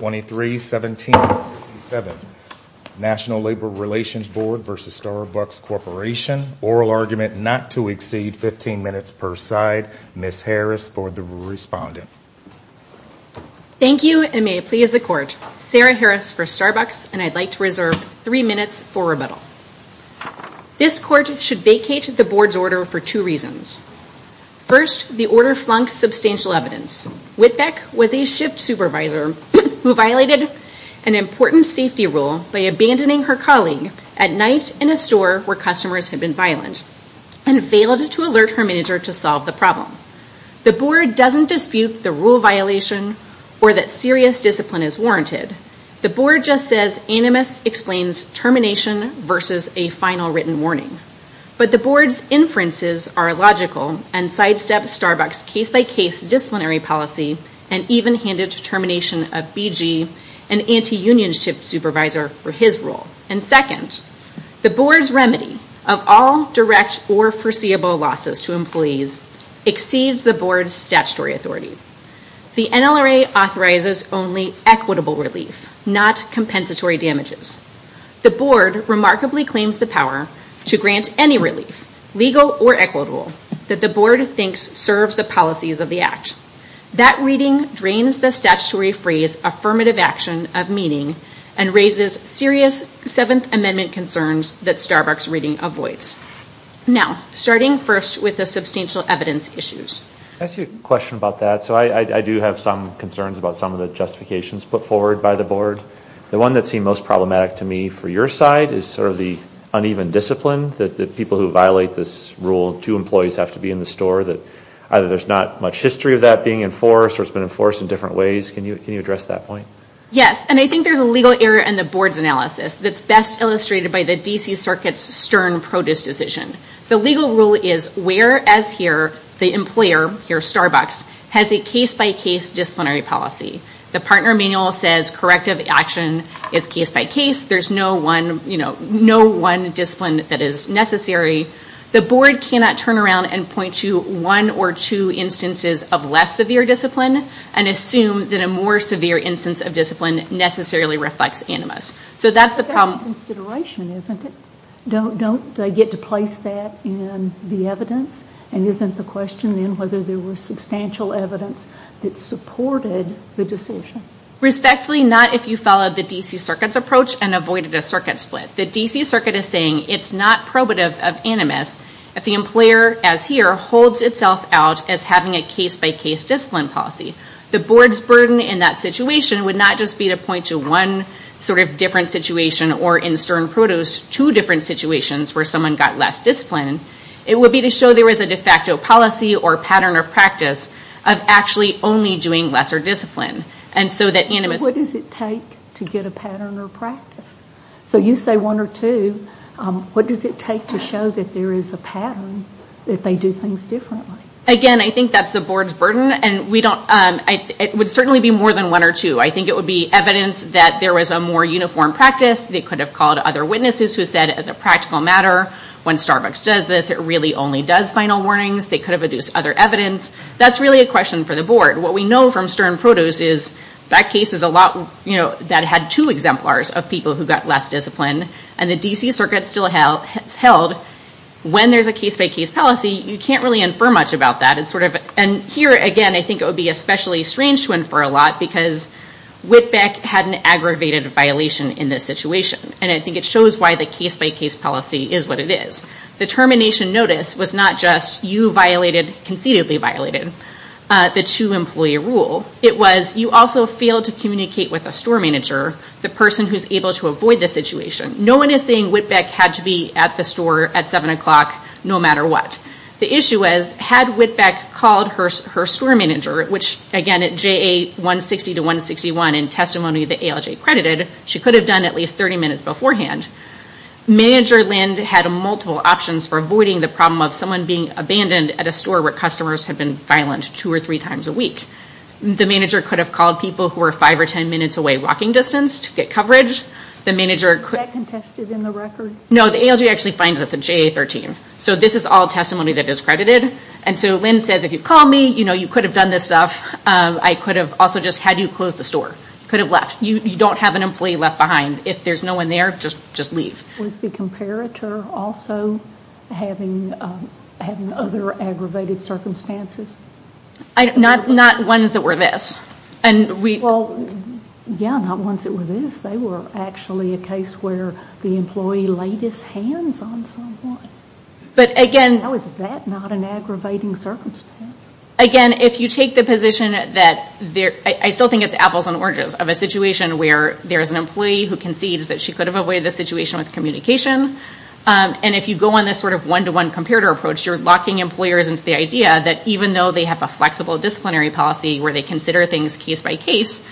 23-17-27 National Labor Relations Board v. Starbucks Corporation. Oral argument not to exceed 15 minutes per side. Ms. Harris for the respondent. Thank you and may it please the court. Sarah Harris for Starbucks and I'd like to reserve three minutes for rebuttal. This court should vacate the board's order for two reasons. First, the order flunks substantial evidence. Whitbeck was a shift supervisor who violated an important safety rule by abandoning her colleague at night in a store where customers had been violent and failed to alert her manager to solve the problem. The board doesn't dispute the rule violation or that serious discipline is warranted. The board just says animus explains termination versus a final written warning. But the board's inferences are logical and sidestep Starbucks case-by-case disciplinary policy and even handed termination of BG, an anti-union shift supervisor, for his role. And second, the board's remedy of all direct or foreseeable losses to employees exceeds the board's statutory authority. The NLRA authorizes only equitable relief, not compensatory damages. The board remarkably claims the power to grant any relief, legal or equitable, that the board thinks serves the policies of the act. That reading drains the statutory phrase affirmative action of meaning and raises serious Seventh Amendment concerns that Starbucks reading avoids. Now, starting first with the substantial evidence issues. I see a question about that. So I do have some concerns about some of the justifications put forward by the board. The one that seemed most problematic to me for your side is sort of the uneven discipline that the people who violate this rule, two employees have to be in the store, that either there's not much history of that being enforced or it's been enforced in different ways. Can you can you address that point? Yes, and I think there's a legal error in the board's analysis that's best illustrated by the DC Circuit's Stern produce decision. The legal rule is where as here the employer, here Starbucks, has a case-by-case disciplinary policy. The partner manual says corrective action is case-by-case. There's no one, you know, no one discipline that is necessary. The board cannot turn around and point to one or two instances of less severe discipline and assume that a more severe instance of discipline necessarily reflects animus. So that's the problem. That's a consideration, isn't it? Don't they get to place that in the evidence and isn't the question then whether there was substantial evidence that supported the decision? Respectfully, not if you followed the DC Circuit's approach and avoided a circuit split. The DC Circuit is saying it's not probative of animus if the employer, as here, holds itself out as having a case-by-case discipline policy. The board's burden in that situation would not just be to point to one sort of different situation or in Stern produce two different situations where someone got less discipline. It would be to show there is a de facto policy or pattern of practice of actually only doing lesser discipline. And so that animus... So what does it take to get a pattern or practice? So you say one or two, what does it take to show that there is a pattern if they do things differently? Again, I think that's the board's burden and we don't, it would certainly be more than one or two. I think it would be evidence that there was a more uniform practice. They could have called other witnesses who said as a practical matter, when Starbucks does this, it really only does final work, but it's not a practical matter. They could have issued other warnings. They could have induced other evidence. That's really a question for the board. What we know from Stern produce is that case is a lot that had two exemplars of people who got less discipline. And the DC Circuit still held, when there is a case by case policy, you can't really infer much about that. And here, again, I think it would be especially strange to infer a lot because Whitbeck had an aggravated violation in this situation. And I think it shows why the case by case policy is what it is. The termination notice was not just you violated, concededly violated, the two employee rule. It was you also failed to communicate with a store manager, the person who is able to avoid the situation. No one is saying Whitbeck had to be at the store at 7 o'clock, no matter what. The issue was, had Whitbeck called her store manager, which again at JA 160 to 161 in testimony that ALJ credited, she could have done at least 30 minutes of communication. Manager Lind had multiple options for avoiding the problem of someone being abandoned at a store where customers have been violent two or three times a week. The manager could have called people who were five or ten minutes away walking distance to get coverage. The ALJ actually finds this at JA 13. So this is all testimony that is credited. And so Lind says, if you call me, you know, you could have done this stuff. I could have also just had you close the store. You could have left. You don't have an employee left behind if there's no one there. Just leave. Was the comparator also having other aggravated circumstances? Not ones that were this. Well, yeah, not ones that were this. They were actually a case where the employee laid his hands on someone. But again... Now is that not an aggravating circumstance? Again, if you take the position that... I still think it's apples and oranges of a situation where there's an employee who concedes that she could have avoided the situation with communication. And if you go on this sort of one-to-one comparator approach, you're locking employers into the idea that even though they have a flexible disciplinary policy where they consider things case-by-case,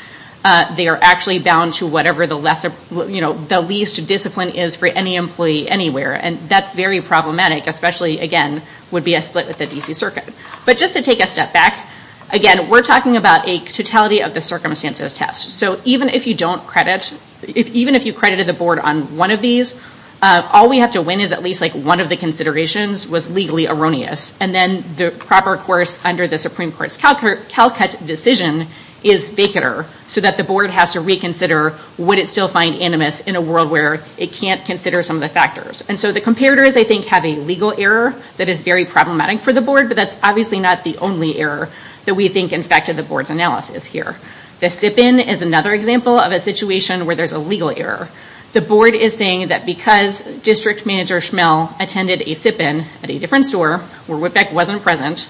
they are actually bound to whatever the least discipline is for any employee anywhere. And that's very problematic, especially, again, would be a split with the D.C. Circuit. But just to take a step back, again, we're talking about a totality of the circumstances test. So even if you don't credit, even if you credited the board on one of these, all we have to win is at least like one of the considerations was legally erroneous. And then the proper course under the Supreme Court's CalCut decision is vacater so that the board has to reconsider would it still find animus in a world where it can't consider some of the factors. And so the comparators, I think, have a legal error that is very problematic for the board, but that's obviously not the only error that we think infected the board's analysis here. The sip-in is another example of a situation where there's a legal error. The board is saying that because District Manager Schmell attended a sip-in at a different store where Whitbeck wasn't present,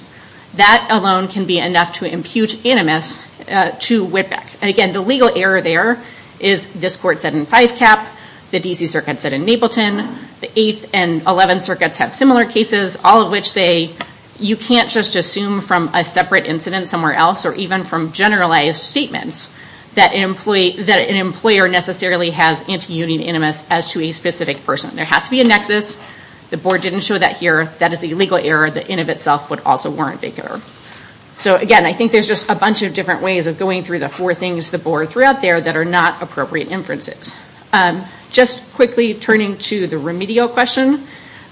that alone can be enough to impute animus to Whitbeck. And again, the legal error there is this court said in Five Cap, the D.C. Circuit said in Mapleton, the Eighth and Eleventh Circuits have similar cases, all of which say you can't just assume from a separate incident somewhere else or even from generalized statements that an employer necessarily has anti-union animus as to a specific person. There has to be a nexus. The board didn't show that here. That is a legal error that in of itself would also warrant vacater. So again, I think there's just a bunch of different ways of going through the four things the board threw out there that are not appropriate inferences. Just quickly turning to the remedial question.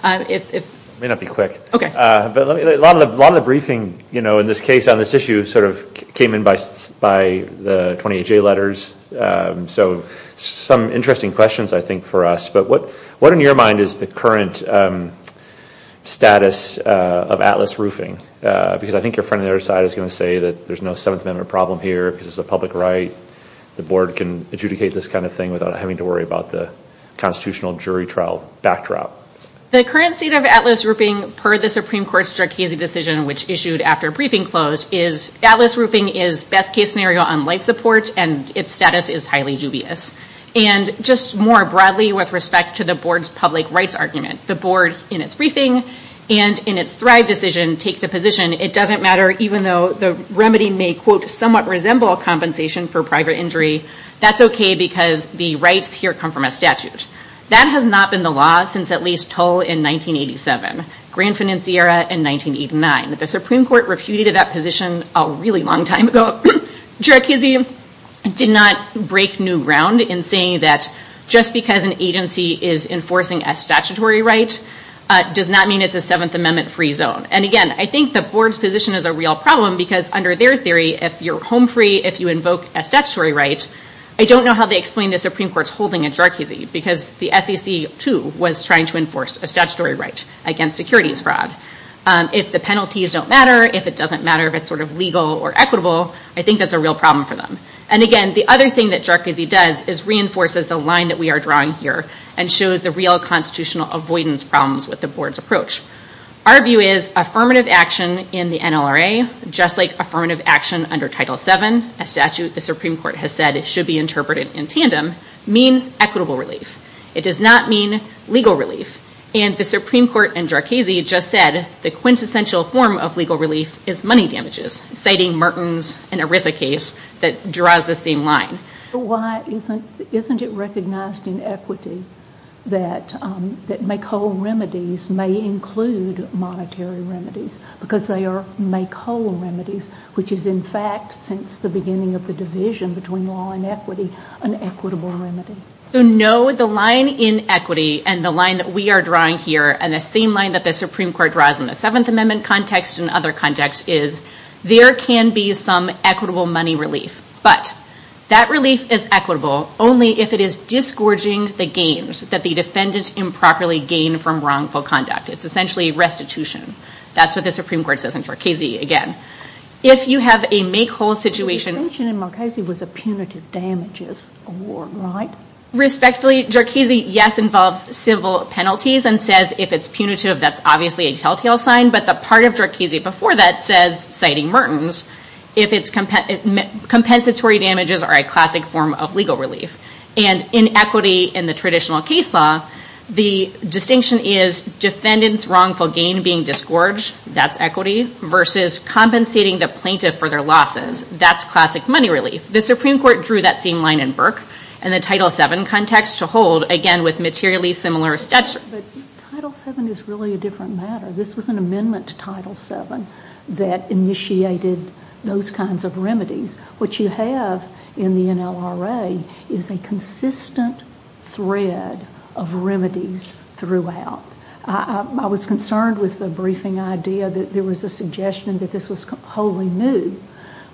It may not be quick. A lot of the briefing in this case on this issue sort of came in by the 20HA letters. So some interesting questions, I think, for us. But what in your mind is the current status of Atlas Roofing? Because I think your friend on the other side is going to say that there's no Seventh Amendment problem here because it's a public right. The board can adjudicate this kind of thing without having to worry about the constitutional jury trial backdrop. The current state of Atlas Roofing, per the Supreme Court's Jarchese decision, which issued after briefing closed, is Atlas Roofing is best case scenario on life support and its status is highly dubious. And just more broadly with respect to the board's public rights argument, the board in its briefing and in its Thrive decision take the position it doesn't matter even though the remedy may, quote, somewhat resemble compensation for private injury, that's okay because the rights here come from a statute. That has not been the law since at least Toll in 1987, Grand Financiera in 1989. The Supreme Court reputed that position a really long time ago. Jarchese did not break new ground in saying that just because an agency is enforcing a statutory right does not mean it's a Seventh Amendment free zone. And again, I think the board's position is a real problem because under their theory if you're home free, if you invoke a statutory right, I don't know how they explain the Supreme Court's holding in Jarchese because the SEC too was trying to enforce a statutory right against securities fraud. If the penalties don't matter, if it doesn't matter if it's sort of legal or equitable, I think that's a real problem for them. And again, the other thing that Jarchese does is reinforces the line that we are drawing here and shows the real constitutional avoidance problems with the board's approach. Our view is affirmative action in the NLRA, just like affirmative action under Title VII, a statute the Supreme Court has said should be interpreted in tandem, means equitable relief. It does not mean legal relief. And the Supreme Court in Jarchese just said the quintessential form of legal relief is money damages, citing Merton's and Arisa case that draws the same line. Why isn't it recognized in equity that make-whole remedies may include monetary remedies because they are make-whole remedies, which is in fact since the beginning of the division between law and equity, an equitable remedy? So no, the line in equity and the line that we are drawing here and the same line that the Supreme Court draws in the Seventh Amendment context and other contexts is there can be some equitable money relief. But that relief is equitable only if it is disgorging the gains that the defendant improperly gained from wrongful conduct. It's essentially restitution. That's what the Supreme Court says in Jarchese again. If you have a make-whole situation... The distinction in Jarchese was a punitive damages award, right? Respectfully, Jarchese, yes, involves civil penalties and says if it's punitive, that's obviously a tell-tale sign. But the part of Jarchese before that says, citing Merton's, if it's compensatory damages are a classic form of legal relief. And in equity in the traditional case law, the distinction is defendant's wrongful gain being disgorged. That's equity versus compensating the plaintiff for their losses. That's classic money relief. The Supreme Court drew that same line in Burke and the Title VII context to hold, again, with materially similar statutes. Title VII is really a different matter. This was an amendment to Title VII that initiated those kinds of remedies. What you have in the NLRA is a consistent thread of remedies throughout. I was concerned with the briefing idea that there was a suggestion that this was wholly new,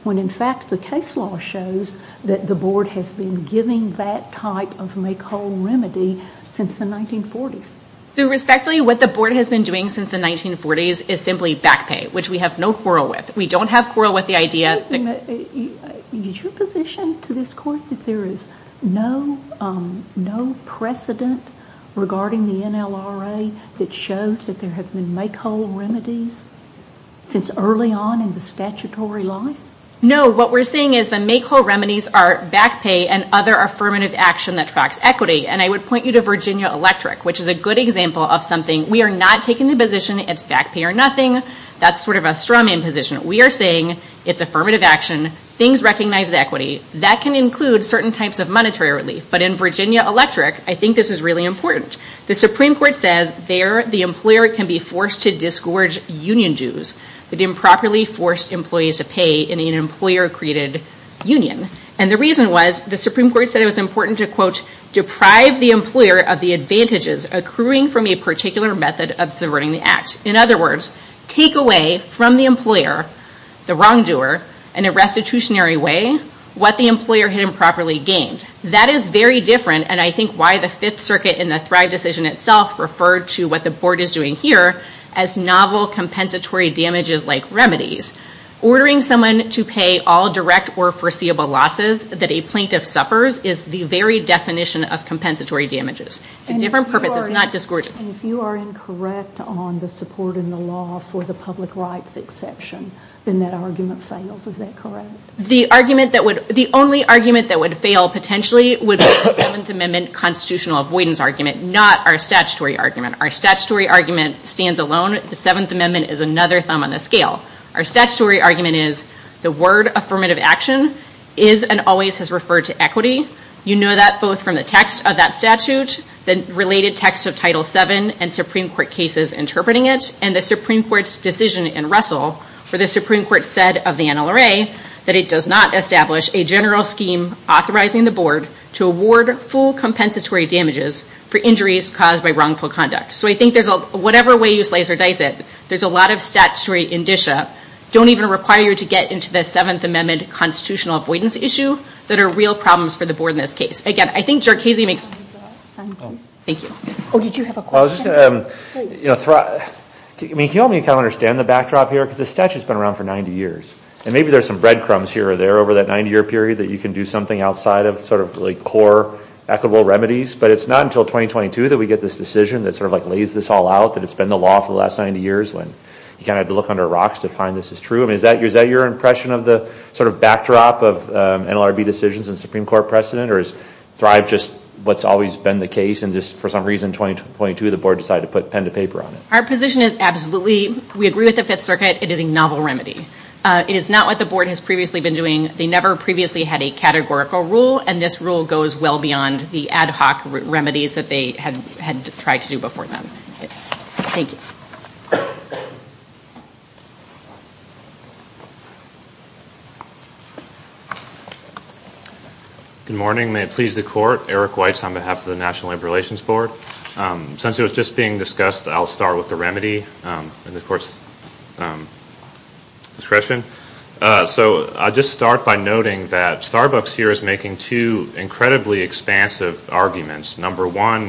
when, in fact, the case law shows that the Board has been giving that type of make-whole remedy since the 1940s. So, respectfully, what the Board has been doing since the 1940s is simply back pay, which we have no quarrel with. We don't have quarrel with the idea that... Is your position to this Court that there is no precedent regarding the NLRA that shows that there have been make-whole remedies since early on in the statutory life? No. What we're saying is the make-whole remedies are back pay and other affirmative action that tracks equity. And I would point you to Virginia Electric, which is a good example of something. We are not taking the position it's back pay or nothing. That's sort of a strawman position. We are saying it's affirmative action. Things recognize equity. That can include certain types of monetary relief. But in Virginia Electric, I think this is really important. The Supreme Court says there the employer can be forced to disgorge union dues that improperly forced employees to pay in an employer-created union. And the reason was the Supreme Court said it was important to, quote, deprive the employer of the advantages accruing from a particular method of subverting the Act. In other words, take away from the employer, the wrongdoer, in a restitutionary way, what the employer had improperly gained. That is very different, and I think why the Fifth Circuit in the Thrive decision itself referred to what the Board is doing here as novel compensatory damages like remedies. Ordering someone to pay all direct or foreseeable losses that a plaintiff suffers is the very definition of compensatory damages. It's a different purpose. It's not disgorging. And if you are incorrect on the support in the law for the public rights exception, then that argument fails. Is that correct? The only argument that would fail potentially would be the Seventh Amendment constitutional avoidance argument, not our statutory argument. Our statutory argument stands alone. The Seventh Amendment is another thumb on the scale. Our statutory argument is the word affirmative action is and always has referred to equity. You know that both from the text of that statute, the related text of Title VII, and Supreme Court cases interpreting it, and the Supreme Court's decision in Russell where the Supreme Court said of the NLRA that it does not establish a general scheme authorizing the Board to award full compensatory damages for injuries caused by wrongful conduct. So I think whatever way you slice or dice it, there's a lot of statutory indicia don't even require you to get into the Seventh Amendment constitutional avoidance issue that are real problems for the Board in this case. Again, I think Jercasey makes— Thank you. Oh, did you have a question? I was just going to—I mean, can you help me kind of understand the backdrop here? Because this statute's been around for 90 years. And maybe there's some breadcrumbs here or there over that 90-year period that you can do something outside of sort of like core equitable remedies. But it's not until 2022 that we get this decision that sort of like lays this all out, that it's been the law for the last 90 years when you kind of have to look under rocks to find this is true. I mean, is that your impression of the sort of backdrop of NLRB decisions and Supreme Court precedent, or has Thrive just—what's always been the case and just for some reason in 2022 the Board decided to put pen to paper on it? Our position is absolutely—we agree with the Fifth Circuit. It is a novel remedy. It is not what the Board has previously been doing. They never previously had a categorical rule, and this rule goes well beyond the ad hoc remedies that they had tried to do before then. Thank you. Good morning. May it please the Court. Eric Weitz on behalf of the National Labor Relations Board. Since it was just being discussed, I'll start with the remedy and, of course, discretion. So I'll just start by noting that Starbucks here is making two incredibly expansive arguments. Number one,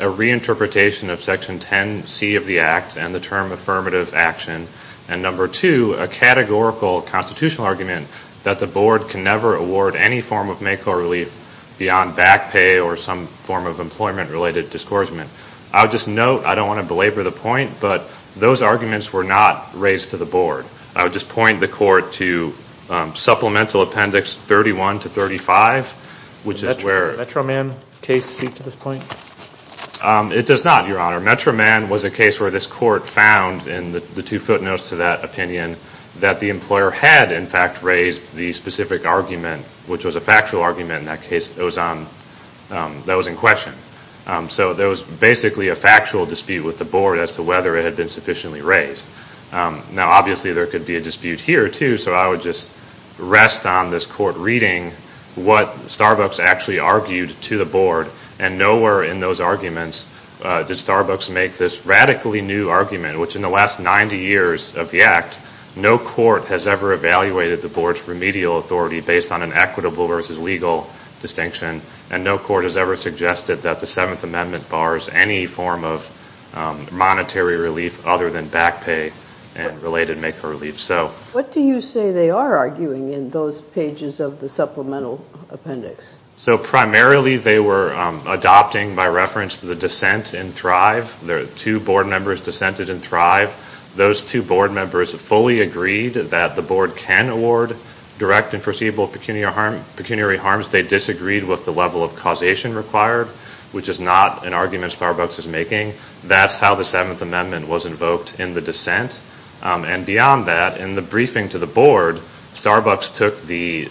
a reinterpretation of Section 10C of the Act and the term affirmative action. And number two, a categorical constitutional argument that the Board can never award any form of MACOR relief beyond back pay or some form of employment-related discouragement. I'll just note—I don't want to belabor the point, but those arguments were not raised to the Board. I would just point the Court to Supplemental Appendix 31 to 35, which is where— Does the Metro Man case speak to this point? It does not, Your Honor. Metro Man was a case where this Court found in the two footnotes to that opinion that the employer had, in fact, raised the specific argument, which was a factual argument. In that case, that was in question. So there was basically a factual dispute with the Board as to whether it had been sufficiently raised. Now, obviously, there could be a dispute here, too, so I would just rest on this Court reading what Starbucks actually argued to the Board. And nowhere in those arguments did Starbucks make this radically new argument, which in the last 90 years of the Act, no court has ever evaluated the Board's remedial authority based on an equitable versus legal distinction, and no court has ever suggested that the Seventh Amendment bars any form of monetary relief other than back pay and related MACOR relief. What do you say they are arguing in those pages of the Supplemental Appendix? So primarily they were adopting, by reference to the dissent in Thrive, the two Board members dissented in Thrive. Those two Board members fully agreed that the Board can award direct and foreseeable pecuniary harms. They disagreed with the level of causation required, which is not an argument Starbucks is making. That's how the Seventh Amendment was invoked in the dissent. And beyond that, in the briefing to the Board, Starbucks took the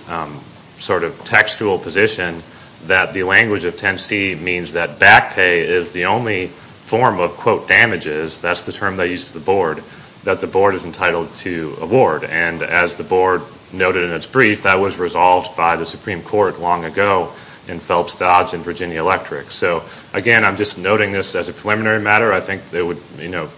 sort of textual position that the language of 10C means that back pay is the only form of, quote, damages, that's the term they use to the Board, that the Board is entitled to award. And as the Board noted in its brief, that was resolved by the Supreme Court long ago in Phelps-Dodds and Virginia Electric. So again, I'm just noting this as a preliminary matter. I think it would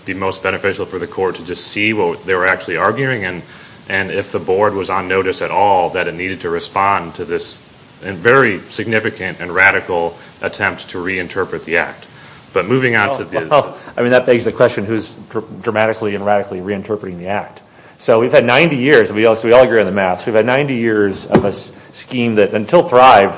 be most beneficial for the Court to just see what they were actually arguing and if the Board was on notice at all that it needed to respond to this very significant and radical attempt to reinterpret the Act. But moving on to the... Well, I mean, that begs the question, who's dramatically and radically reinterpreting the Act? So we've had 90 years, and we all agree on the math, we've had 90 years of a scheme that, until Thrive,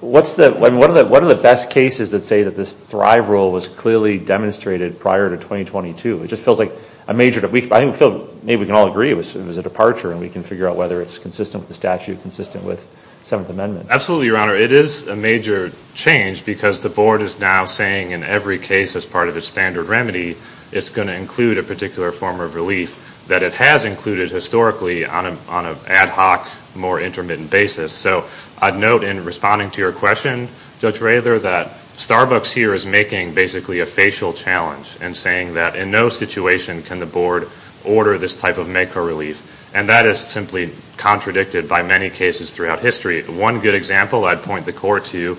what are the best cases that say that this Thrive rule was clearly demonstrated prior to 2022? It just feels like a major... I think we can all agree it was a departure, and we can figure out whether it's consistent with the statute, consistent with the 7th Amendment. Absolutely, Your Honor. It is a major change because the Board is now saying in every case as part of its standard remedy it's going to include a particular form of relief that it has included historically on an ad hoc, more intermittent basis. So I'd note in responding to your question, Judge Rather, that Starbucks here is making basically a facial challenge and saying that in no situation can the Board order this type of MECO relief, and that is simply contradicted by many cases throughout history. One good example I'd point the Court to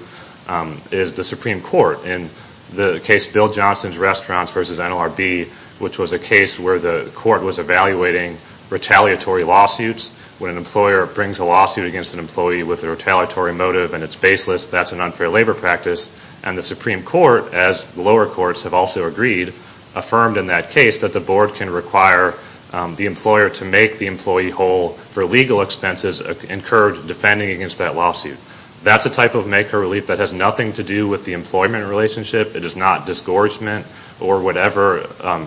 is the Supreme Court in the case Bill Johnson's Restaurants v. NLRB, which was a case where the Court was evaluating retaliatory lawsuits when an employer brings a lawsuit against an employee with a retaliatory motive and it's baseless, that's an unfair labor practice. And the Supreme Court, as the lower courts have also agreed, affirmed in that case that the Board can require the employer to make the employee whole for legal expenses incurred defending against that lawsuit. That's a type of MECO relief that has nothing to do with the employment relationship. It is not disgorgement or whatever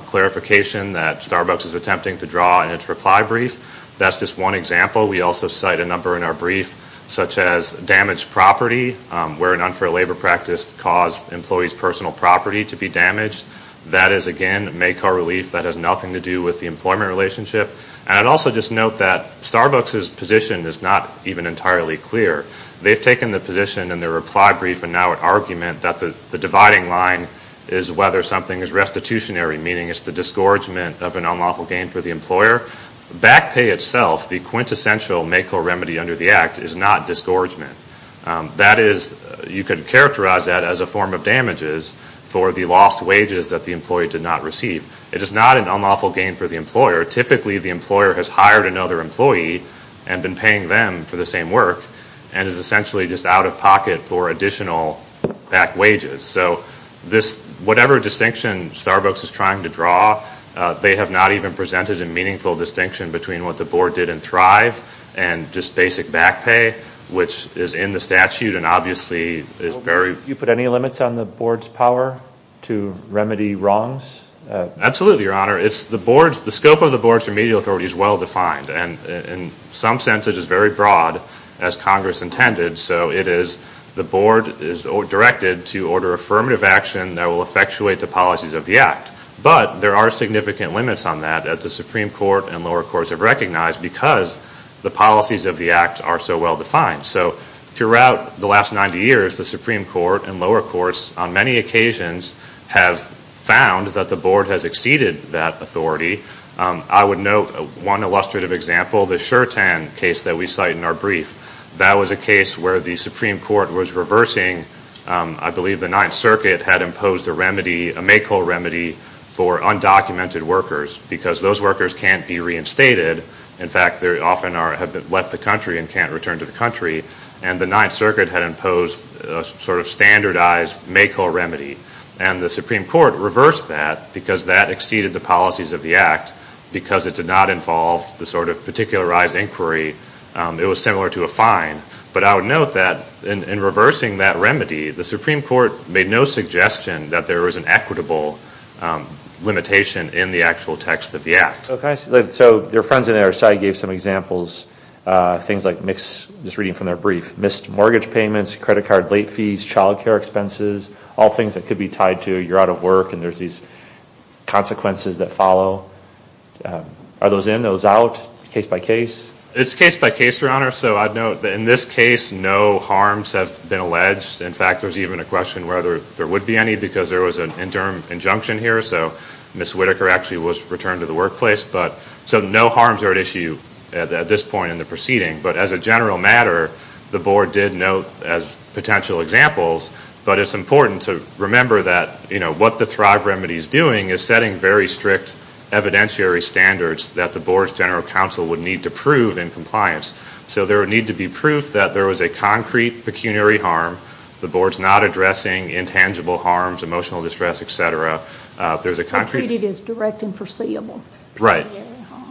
clarification that Starbucks is attempting to draw in its reply brief. That's just one example. We also cite a number in our brief such as damaged property, where an unfair labor practice caused an employee's personal property to be damaged. That is, again, MECO relief that has nothing to do with the employment relationship. And I'd also just note that Starbucks' position is not even entirely clear. They've taken the position in their reply brief and now an argument that the dividing line is whether something is restitutionary, meaning it's the disgorgement of an unlawful gain for the employer. Back pay itself, the quintessential MECO remedy under the Act, is not disgorgement. That is, you could characterize that as a form of damages for the lost wages that the employee did not receive. It is not an unlawful gain for the employer. Typically, the employer has hired another employee and been paying them for the same work and is essentially just out of pocket for additional back wages. So whatever distinction Starbucks is trying to draw, they have not even presented a meaningful distinction between what the board did in Thrive and just basic back pay, which is in the statute and obviously is very— You put any limits on the board's power to remedy wrongs? Absolutely, Your Honor. The scope of the board's remedial authority is well-defined, and in some sense it is very broad, as Congress intended. So it is the board is directed to order affirmative action that will effectuate the policies of the Act. But there are significant limits on that, as the Supreme Court and lower courts have recognized, because the policies of the Act are so well-defined. So throughout the last 90 years, the Supreme Court and lower courts, on many occasions, have found that the board has exceeded that authority. I would note one illustrative example, the Shertan case that we cite in our brief. That was a case where the Supreme Court was reversing— I believe the Ninth Circuit had imposed a remedy, a make-all remedy, for undocumented workers because those workers can't be reinstated. In fact, they often have left the country and can't return to the country. And the Ninth Circuit had imposed a sort of standardized make-all remedy. And the Supreme Court reversed that because that exceeded the policies of the Act because it did not involve the sort of particularized inquiry. It was similar to a fine. But I would note that in reversing that remedy, the Supreme Court made no suggestion that there was an equitable limitation in the actual text of the Act. So their friends on our side gave some examples. Things like—just reading from their brief—missed mortgage payments, credit card late fees, child care expenses, all things that could be tied to you're out of work and there's these consequences that follow. Are those in? Are those out? Case by case? It's case by case, Your Honor. So I'd note that in this case, no harms have been alleged. In fact, there's even a question whether there would be any because there was an interim injunction here. So Miss Whitaker actually was returned to the workplace. So no harms are at issue at this point in the proceeding. But as a general matter, the Board did note as potential examples, but it's important to remember that what the Thrive remedy is doing is setting very strict evidentiary standards that the Board's general counsel would need to prove in compliance. So there would need to be proof that there was a concrete pecuniary harm. The Board's not addressing intangible harms, emotional distress, etc. Concrete is direct and foreseeable. Right.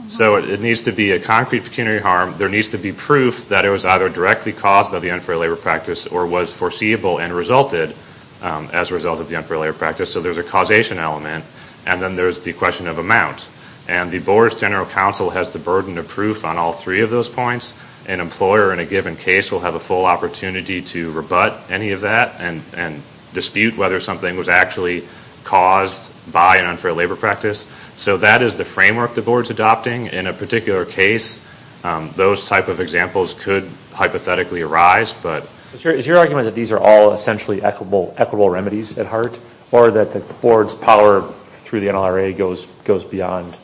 So it needs to be a concrete pecuniary harm. There needs to be proof that it was either directly caused by the unfair labor practice or was foreseeable and resulted as a result of the unfair labor practice. So there's a causation element. And then there's the question of amount. And the Board's general counsel has the burden of proof on all three of those points. An employer in a given case will have a full opportunity to rebut any of that and dispute whether something was actually caused by an unfair labor practice. So that is the framework the Board's adopting. In a particular case, those type of examples could hypothetically arise. Is your argument that these are all essentially equitable remedies at heart or that the Board's power through the NLRA goes beyond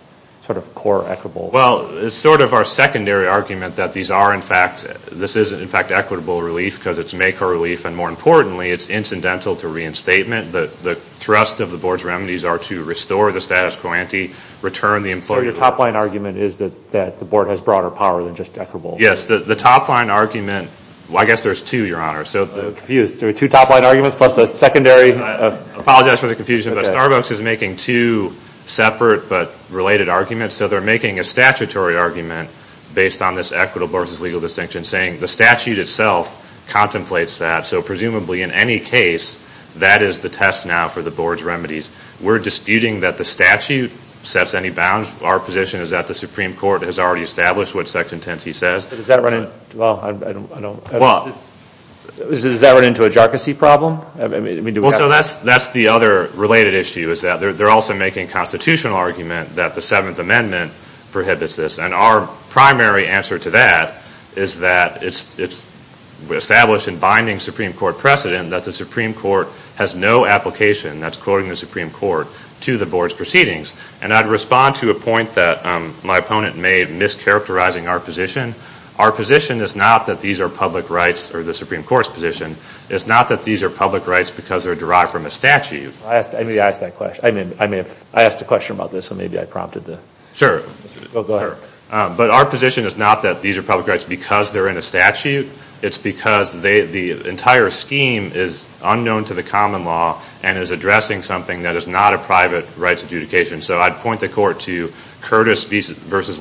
sort of core equitable? Well, it's sort of our secondary argument that these are, in fact, this is, in fact, equitable relief because it's maker relief. And more importantly, it's incidental to reinstatement. The thrust of the Board's remedies are to restore the status quo ante, return the employee. So your top line argument is that the Board has broader power than just equitable. Yes. The top line argument, well, I guess there's two, Your Honor. Two top line arguments plus a secondary. I apologize for the confusion, but Starbucks is making two separate but related arguments. So they're making a statutory argument based on this equitable versus legal distinction, saying the statute itself contemplates that. So presumably in any case, that is the test now for the Board's remedies. We're disputing that the statute sets any bounds. Our position is that the Supreme Court has already established what Section 10c says. Does that run into a jarczy problem? Well, so that's the other related issue is that they're also making a constitutional argument that the Seventh Amendment prohibits this. And our primary answer to that is that it's established in binding Supreme Court precedent that the Supreme Court has no application, that's quoting the Supreme Court, to the Board's proceedings. And I'd respond to a point that my opponent made mischaracterizing our position. Our position is not that these are public rights or the Supreme Court's position. It's not that these are public rights because they're derived from a statute. I may have asked a question about this, so maybe I prompted it. Sure. Go ahead. But our position is not that these are public rights because they're in a statute. It's because the entire scheme is unknown to the common law and is addressing something that is not a private rights adjudication. So I'd point the court to Curtis v.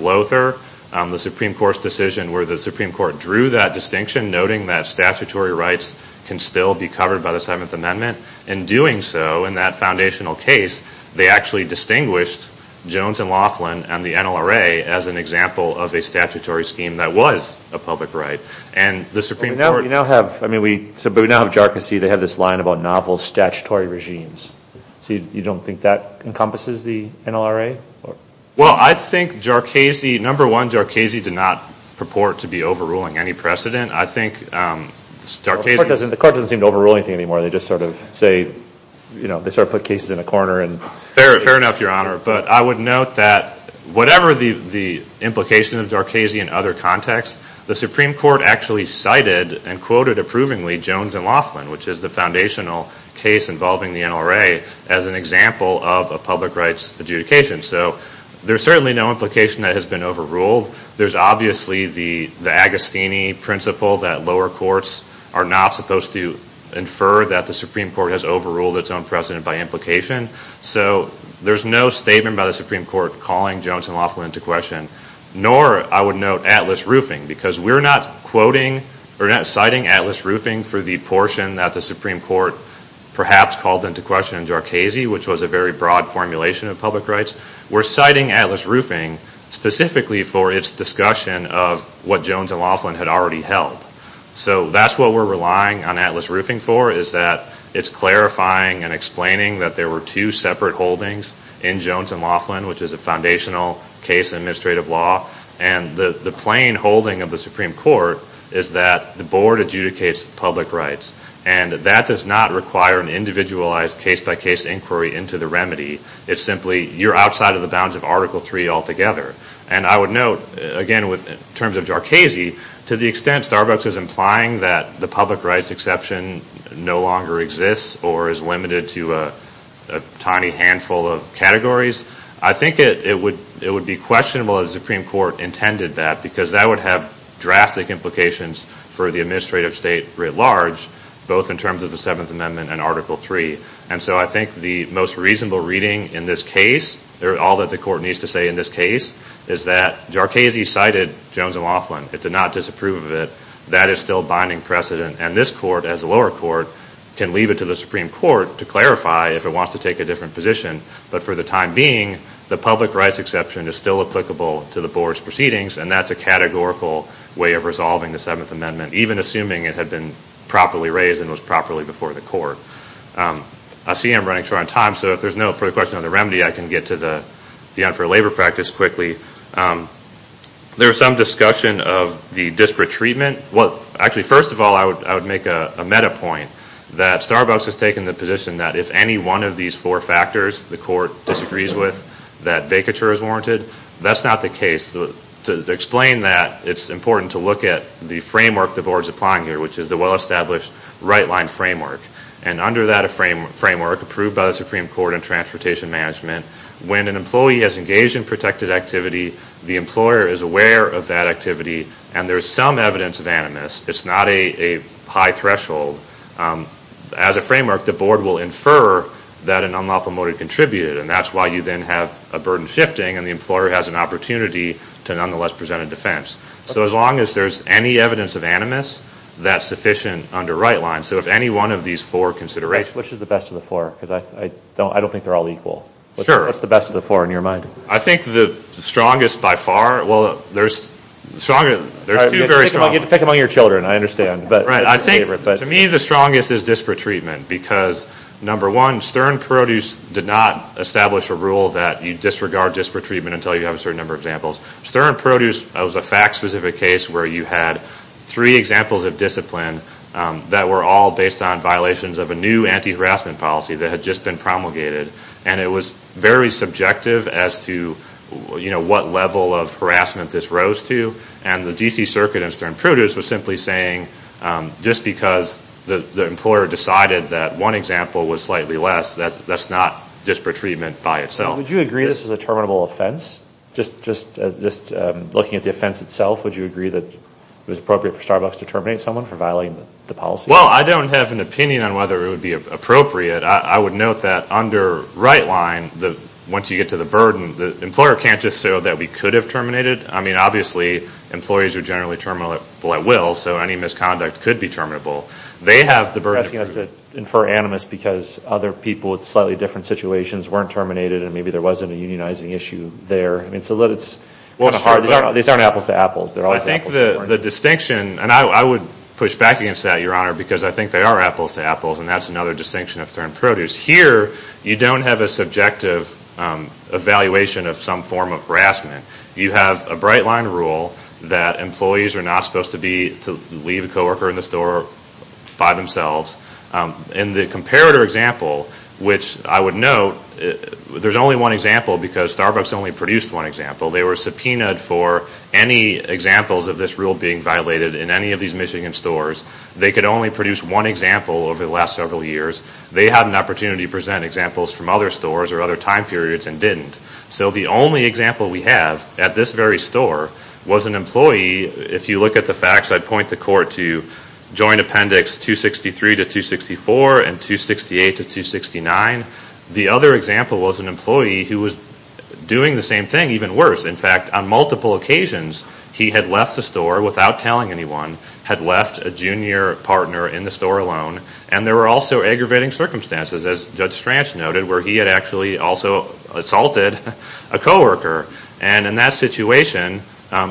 Lothar, the Supreme Court's decision where the Supreme Court drew that distinction, noting that statutory rights can still be covered by the Seventh Amendment. In doing so, in that foundational case, they actually distinguished Jones and Laughlin and the NLRA as an example of a statutory scheme that was a public right. But we now have JARCISI. They have this line about novel statutory regimes. So you don't think that encompasses the NLRA? Well, I think, number one, JARCISI did not purport to be overruling any precedent. The court doesn't seem to overrule anything anymore. They just sort of put cases in a corner. Fair enough, Your Honor. But I would note that whatever the implication of JARCISI in other contexts, the Supreme Court actually cited and quoted approvingly Jones and Laughlin, which is the foundational case involving the NLRA, as an example of a public rights adjudication. So there's certainly no implication that has been overruled. There's obviously the Agostini principle that lower courts are not supposed to infer that the Supreme Court has overruled its own precedent by implication. So there's no statement by the Supreme Court calling Jones and Laughlin into question, nor, I would note, Atlas Roofing, because we're not citing Atlas Roofing for the portion that the Supreme Court perhaps called into question in JARCISI, which was a very broad formulation of public rights. We're citing Atlas Roofing specifically for its discussion of what Jones and Laughlin had already held. So that's what we're relying on Atlas Roofing for, is that it's clarifying and explaining that there were two separate holdings in Jones and Laughlin, which is a foundational case in administrative law, and the plain holding of the Supreme Court is that the board adjudicates public rights, and that does not require an individualized case-by-case inquiry into the remedy. It's simply you're outside of the bounds of Article III altogether. And I would note, again, in terms of JARCISI, to the extent Starbucks is implying that the public rights exception no longer exists or is limited to a tiny handful of categories, I think it would be questionable if the Supreme Court intended that, because that would have drastic implications for the administrative state writ large, both in terms of the Seventh Amendment and Article III. And so I think the most reasonable reading in this case, all that the court needs to say in this case, is that JARCISI cited Jones and Laughlin. It did not disapprove of it. That is still binding precedent. And this court, as a lower court, can leave it to the Supreme Court to clarify if it wants to take a different position. But for the time being, the public rights exception is still applicable to the board's proceedings, and that's a categorical way of resolving the Seventh Amendment, even assuming it had been properly raised and was properly before the court. I see I'm running short on time, so if there's no further question on the remedy, I can get to the unfair labor practice quickly. There was some discussion of the disparate treatment. Well, actually, first of all, I would make a meta point that Starbucks has taken the position that if any one of these four factors the court disagrees with, that vacature is warranted. That's not the case. To explain that, it's important to look at the framework the board is applying here, which is the well-established right-line framework. And under that framework, approved by the Supreme Court in transportation management, when an employee has engaged in protected activity, the employer is aware of that activity, and there is some evidence of animus. It's not a high threshold. As a framework, the board will infer that an unlawful motive contributed, and that's why you then have a burden shifting, and the employer has an opportunity to nonetheless present a defense. So as long as there's any evidence of animus, that's sufficient under right-line. So if any one of these four considerations. Which is the best of the four? Because I don't think they're all equal. Sure. What's the best of the four in your mind? I think the strongest by far, well, there's two very strong ones. You have to pick among your children, I understand. Right. To me, the strongest is disparate treatment, because, number one, Stern Produce did not establish a rule that you disregard disparate treatment until you have a certain number of examples. Stern Produce was a fact-specific case where you had three examples of discipline that were all based on violations of a new anti-harassment policy that had just been promulgated. And it was very subjective as to, you know, what level of harassment this rose to. And the D.C. Circuit in Stern Produce was simply saying, just because the employer decided that one example was slightly less, that's not disparate treatment by itself. Would you agree this is a terminable offense? Just looking at the offense itself, would you agree that it was appropriate for Starbucks to terminate someone for violating the policy? Well, I don't have an opinion on whether it would be appropriate. I would note that under right line, once you get to the burden, the employer can't just say, oh, that we could have terminated. I mean, obviously, employees are generally terminable at will, so any misconduct could be terminable. They have the burden. You're asking us to infer animus because other people in slightly different situations weren't terminated and maybe there wasn't a unionizing issue there. I mean, it's a little bit hard. These aren't apples to apples. I think the distinction, and I would push back against that, Your Honor, because I think they are apples to apples, and that's another distinction of termed produce. Here, you don't have a subjective evaluation of some form of harassment. You have a bright line rule that employees are not supposed to be to leave a coworker in the store by themselves. In the comparator example, which I would note, there's only one example because Starbucks only produced one example. They were subpoenaed for any examples of this rule being violated in any of these Michigan stores. They could only produce one example over the last several years. They had an opportunity to present examples from other stores or other time periods and didn't. So the only example we have at this very store was an employee. If you look at the facts, I'd point the court to Joint Appendix 263 to 264 and 268 to 269. The other example was an employee who was doing the same thing, even worse. In fact, on multiple occasions, he had left the store without telling anyone, had left a junior partner in the store alone, and there were also aggravating circumstances, as Judge Stranch noted, where he had actually also assaulted a coworker. In that situation,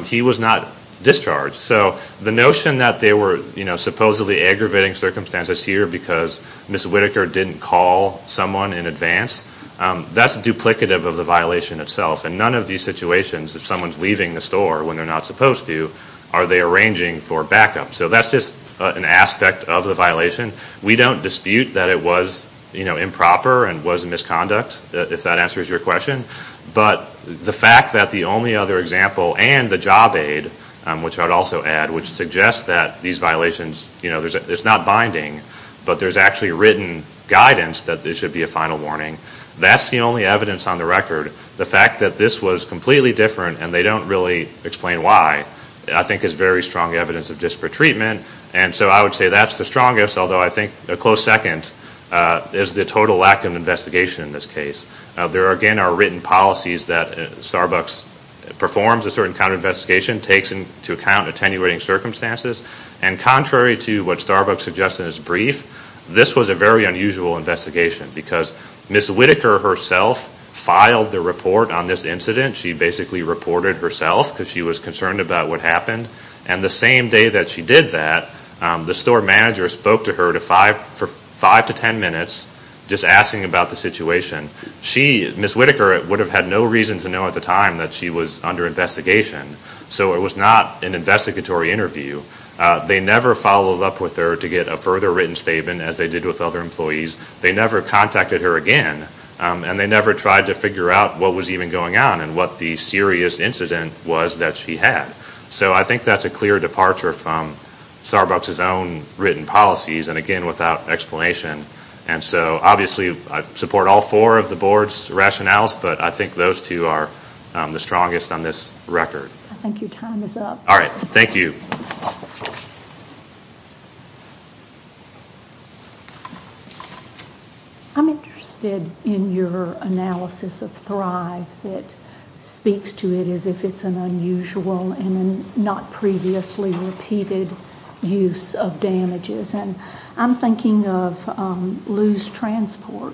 he was not discharged. So the notion that there were supposedly aggravating circumstances here because Ms. Whitaker didn't call someone in advance, that's duplicative of the violation itself. In none of these situations, if someone's leaving the store when they're not supposed to, are they arranging for backup? So that's just an aspect of the violation. We don't dispute that it was improper and was a misconduct, if that answers your question. But the fact that the only other example and the job aid, which I'd also add, which suggests that these violations, it's not binding, but there's actually written guidance that there should be a final warning, that's the only evidence on the record. The fact that this was completely different and they don't really explain why, I think is very strong evidence of disparate treatment, and so I would say that's the strongest, although I think a close second is the total lack of investigation in this case. There again are written policies that Starbucks performs a certain kind of investigation, takes into account attenuating circumstances, and contrary to what Starbucks suggests in its brief, this was a very unusual investigation because Ms. Whitaker herself filed the report on this incident. She basically reported herself because she was concerned about what happened, and the same day that she did that, the store manager spoke to her for five to ten minutes, just asking about the situation. Ms. Whitaker would have had no reason to know at the time that she was under investigation, so it was not an investigatory interview. They never followed up with her to get a further written statement, as they did with other employees. They never contacted her again, and they never tried to figure out what was even going on and what the serious incident was that she had. So I think that's a clear departure from Starbucks' own written policies, and again without explanation, and so obviously I support all four of the board's rationales, but I think those two are the strongest on this record. I think your time is up. All right. Thank you. I'm interested in your analysis of Thrive that speaks to it as if it's an unusual and not previously repeated use of damages, and I'm thinking of Lew's Transport,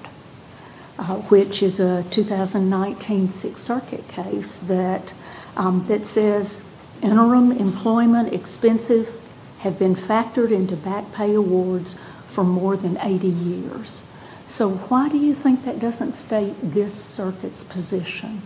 which is a 2019 Sixth Circuit case that says interim employment expenses have been factored into back pay awards for more than 80 years. So why do you think that doesn't state this circuit's position?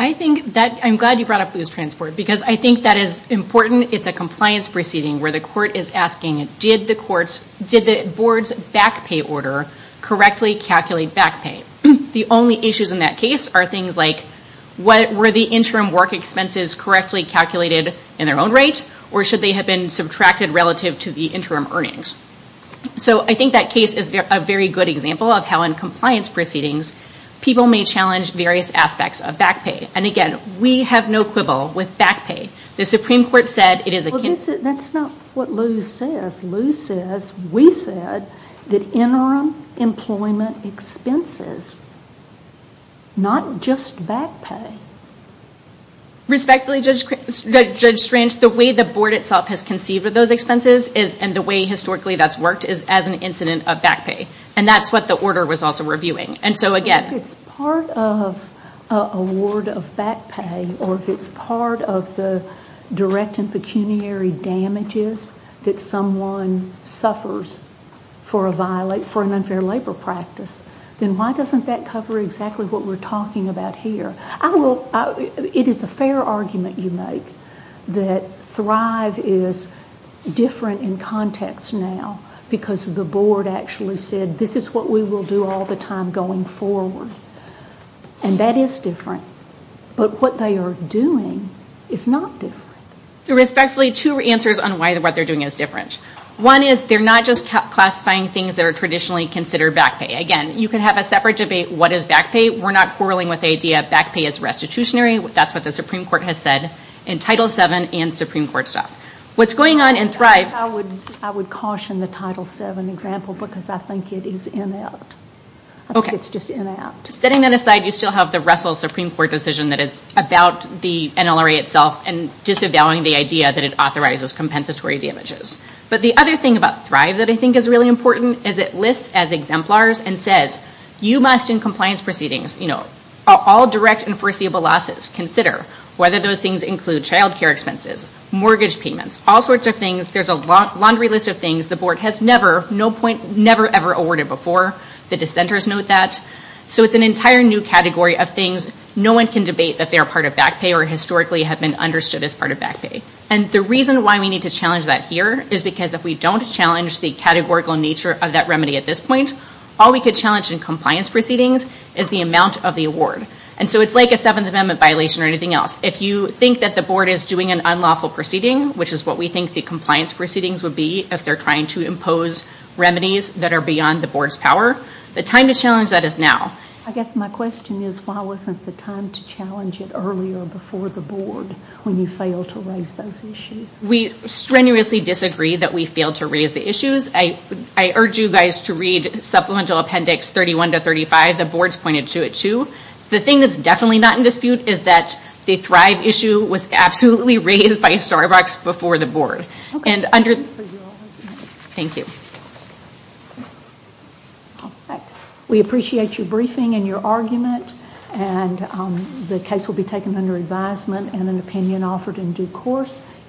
I'm glad you brought up Lew's Transport, because I think that is important. It's a compliance proceeding where the court is asking, did the board's back pay order correctly calculate back pay? The only issues in that case are things like, were the interim work expenses correctly calculated in their own rate, or should they have been subtracted relative to the interim earnings? So I think that case is a very good example of how in compliance proceedings people may challenge various aspects of back pay, and again, we have no quibble with back pay. The Supreme Court said it is a… That's not what Lew says. Lew says, we said, that interim employment expenses, not just back pay. Respectfully, Judge Strange, the way the board itself has conceived of those expenses and the way historically that's worked is as an incident of back pay, and that's what the order was also reviewing. And so again… If it's part of award of back pay or if it's part of the direct and pecuniary damages that someone suffers for an unfair labor practice, then why doesn't that cover exactly what we're talking about here? It is a fair argument you make that Thrive is different in context now because the board actually said, this is what we will do all the time going forward. And that is different. But what they are doing is not different. So respectfully, two answers on why what they're doing is different. One is they're not just classifying things that are traditionally considered back pay. Again, you can have a separate debate, what is back pay? We're not quarreling with the idea of back pay as restitutionary. That's what the Supreme Court has said in Title VII and Supreme Court stuff. What's going on in Thrive… I would caution the Title VII example because I think it is inept. I think it's just inept. Setting that aside, you still have the Russell Supreme Court decision that is about the NLRA itself and disavowing the idea that it authorizes compensatory damages. But the other thing about Thrive that I think is really important is it lists as exemplars and says, you must in compliance proceedings, all direct and foreseeable losses, consider whether those things include child care expenses, mortgage payments, all sorts of things. There's a laundry list of things the board has never, no point, never, ever awarded before. The dissenters note that. So it's an entire new category of things. No one can debate that they are part of back pay or historically have been understood as part of back pay. And the reason why we need to challenge that here is because if we don't challenge the categorical nature of that remedy at this point, all we could challenge in compliance proceedings is the amount of the award. And so it's like a Seventh Amendment violation or anything else. If you think that the board is doing an unlawful proceeding, which is what we think the compliance proceedings would be if they're trying to impose remedies that are beyond the board's power, the time to challenge that is now. I guess my question is, why wasn't the time to challenge it earlier before the board when you failed to raise those issues? We strenuously disagree that we failed to raise the issues. I urge you guys to read Supplemental Appendix 31 to 35. The board's pointed to it too. The thing that's definitely not in dispute is that the Thrive issue was absolutely raised by Starbucks before the board. Thank you. Thank you. We appreciate your briefing and your argument. The case will be taken under advisement and an opinion offered in due course.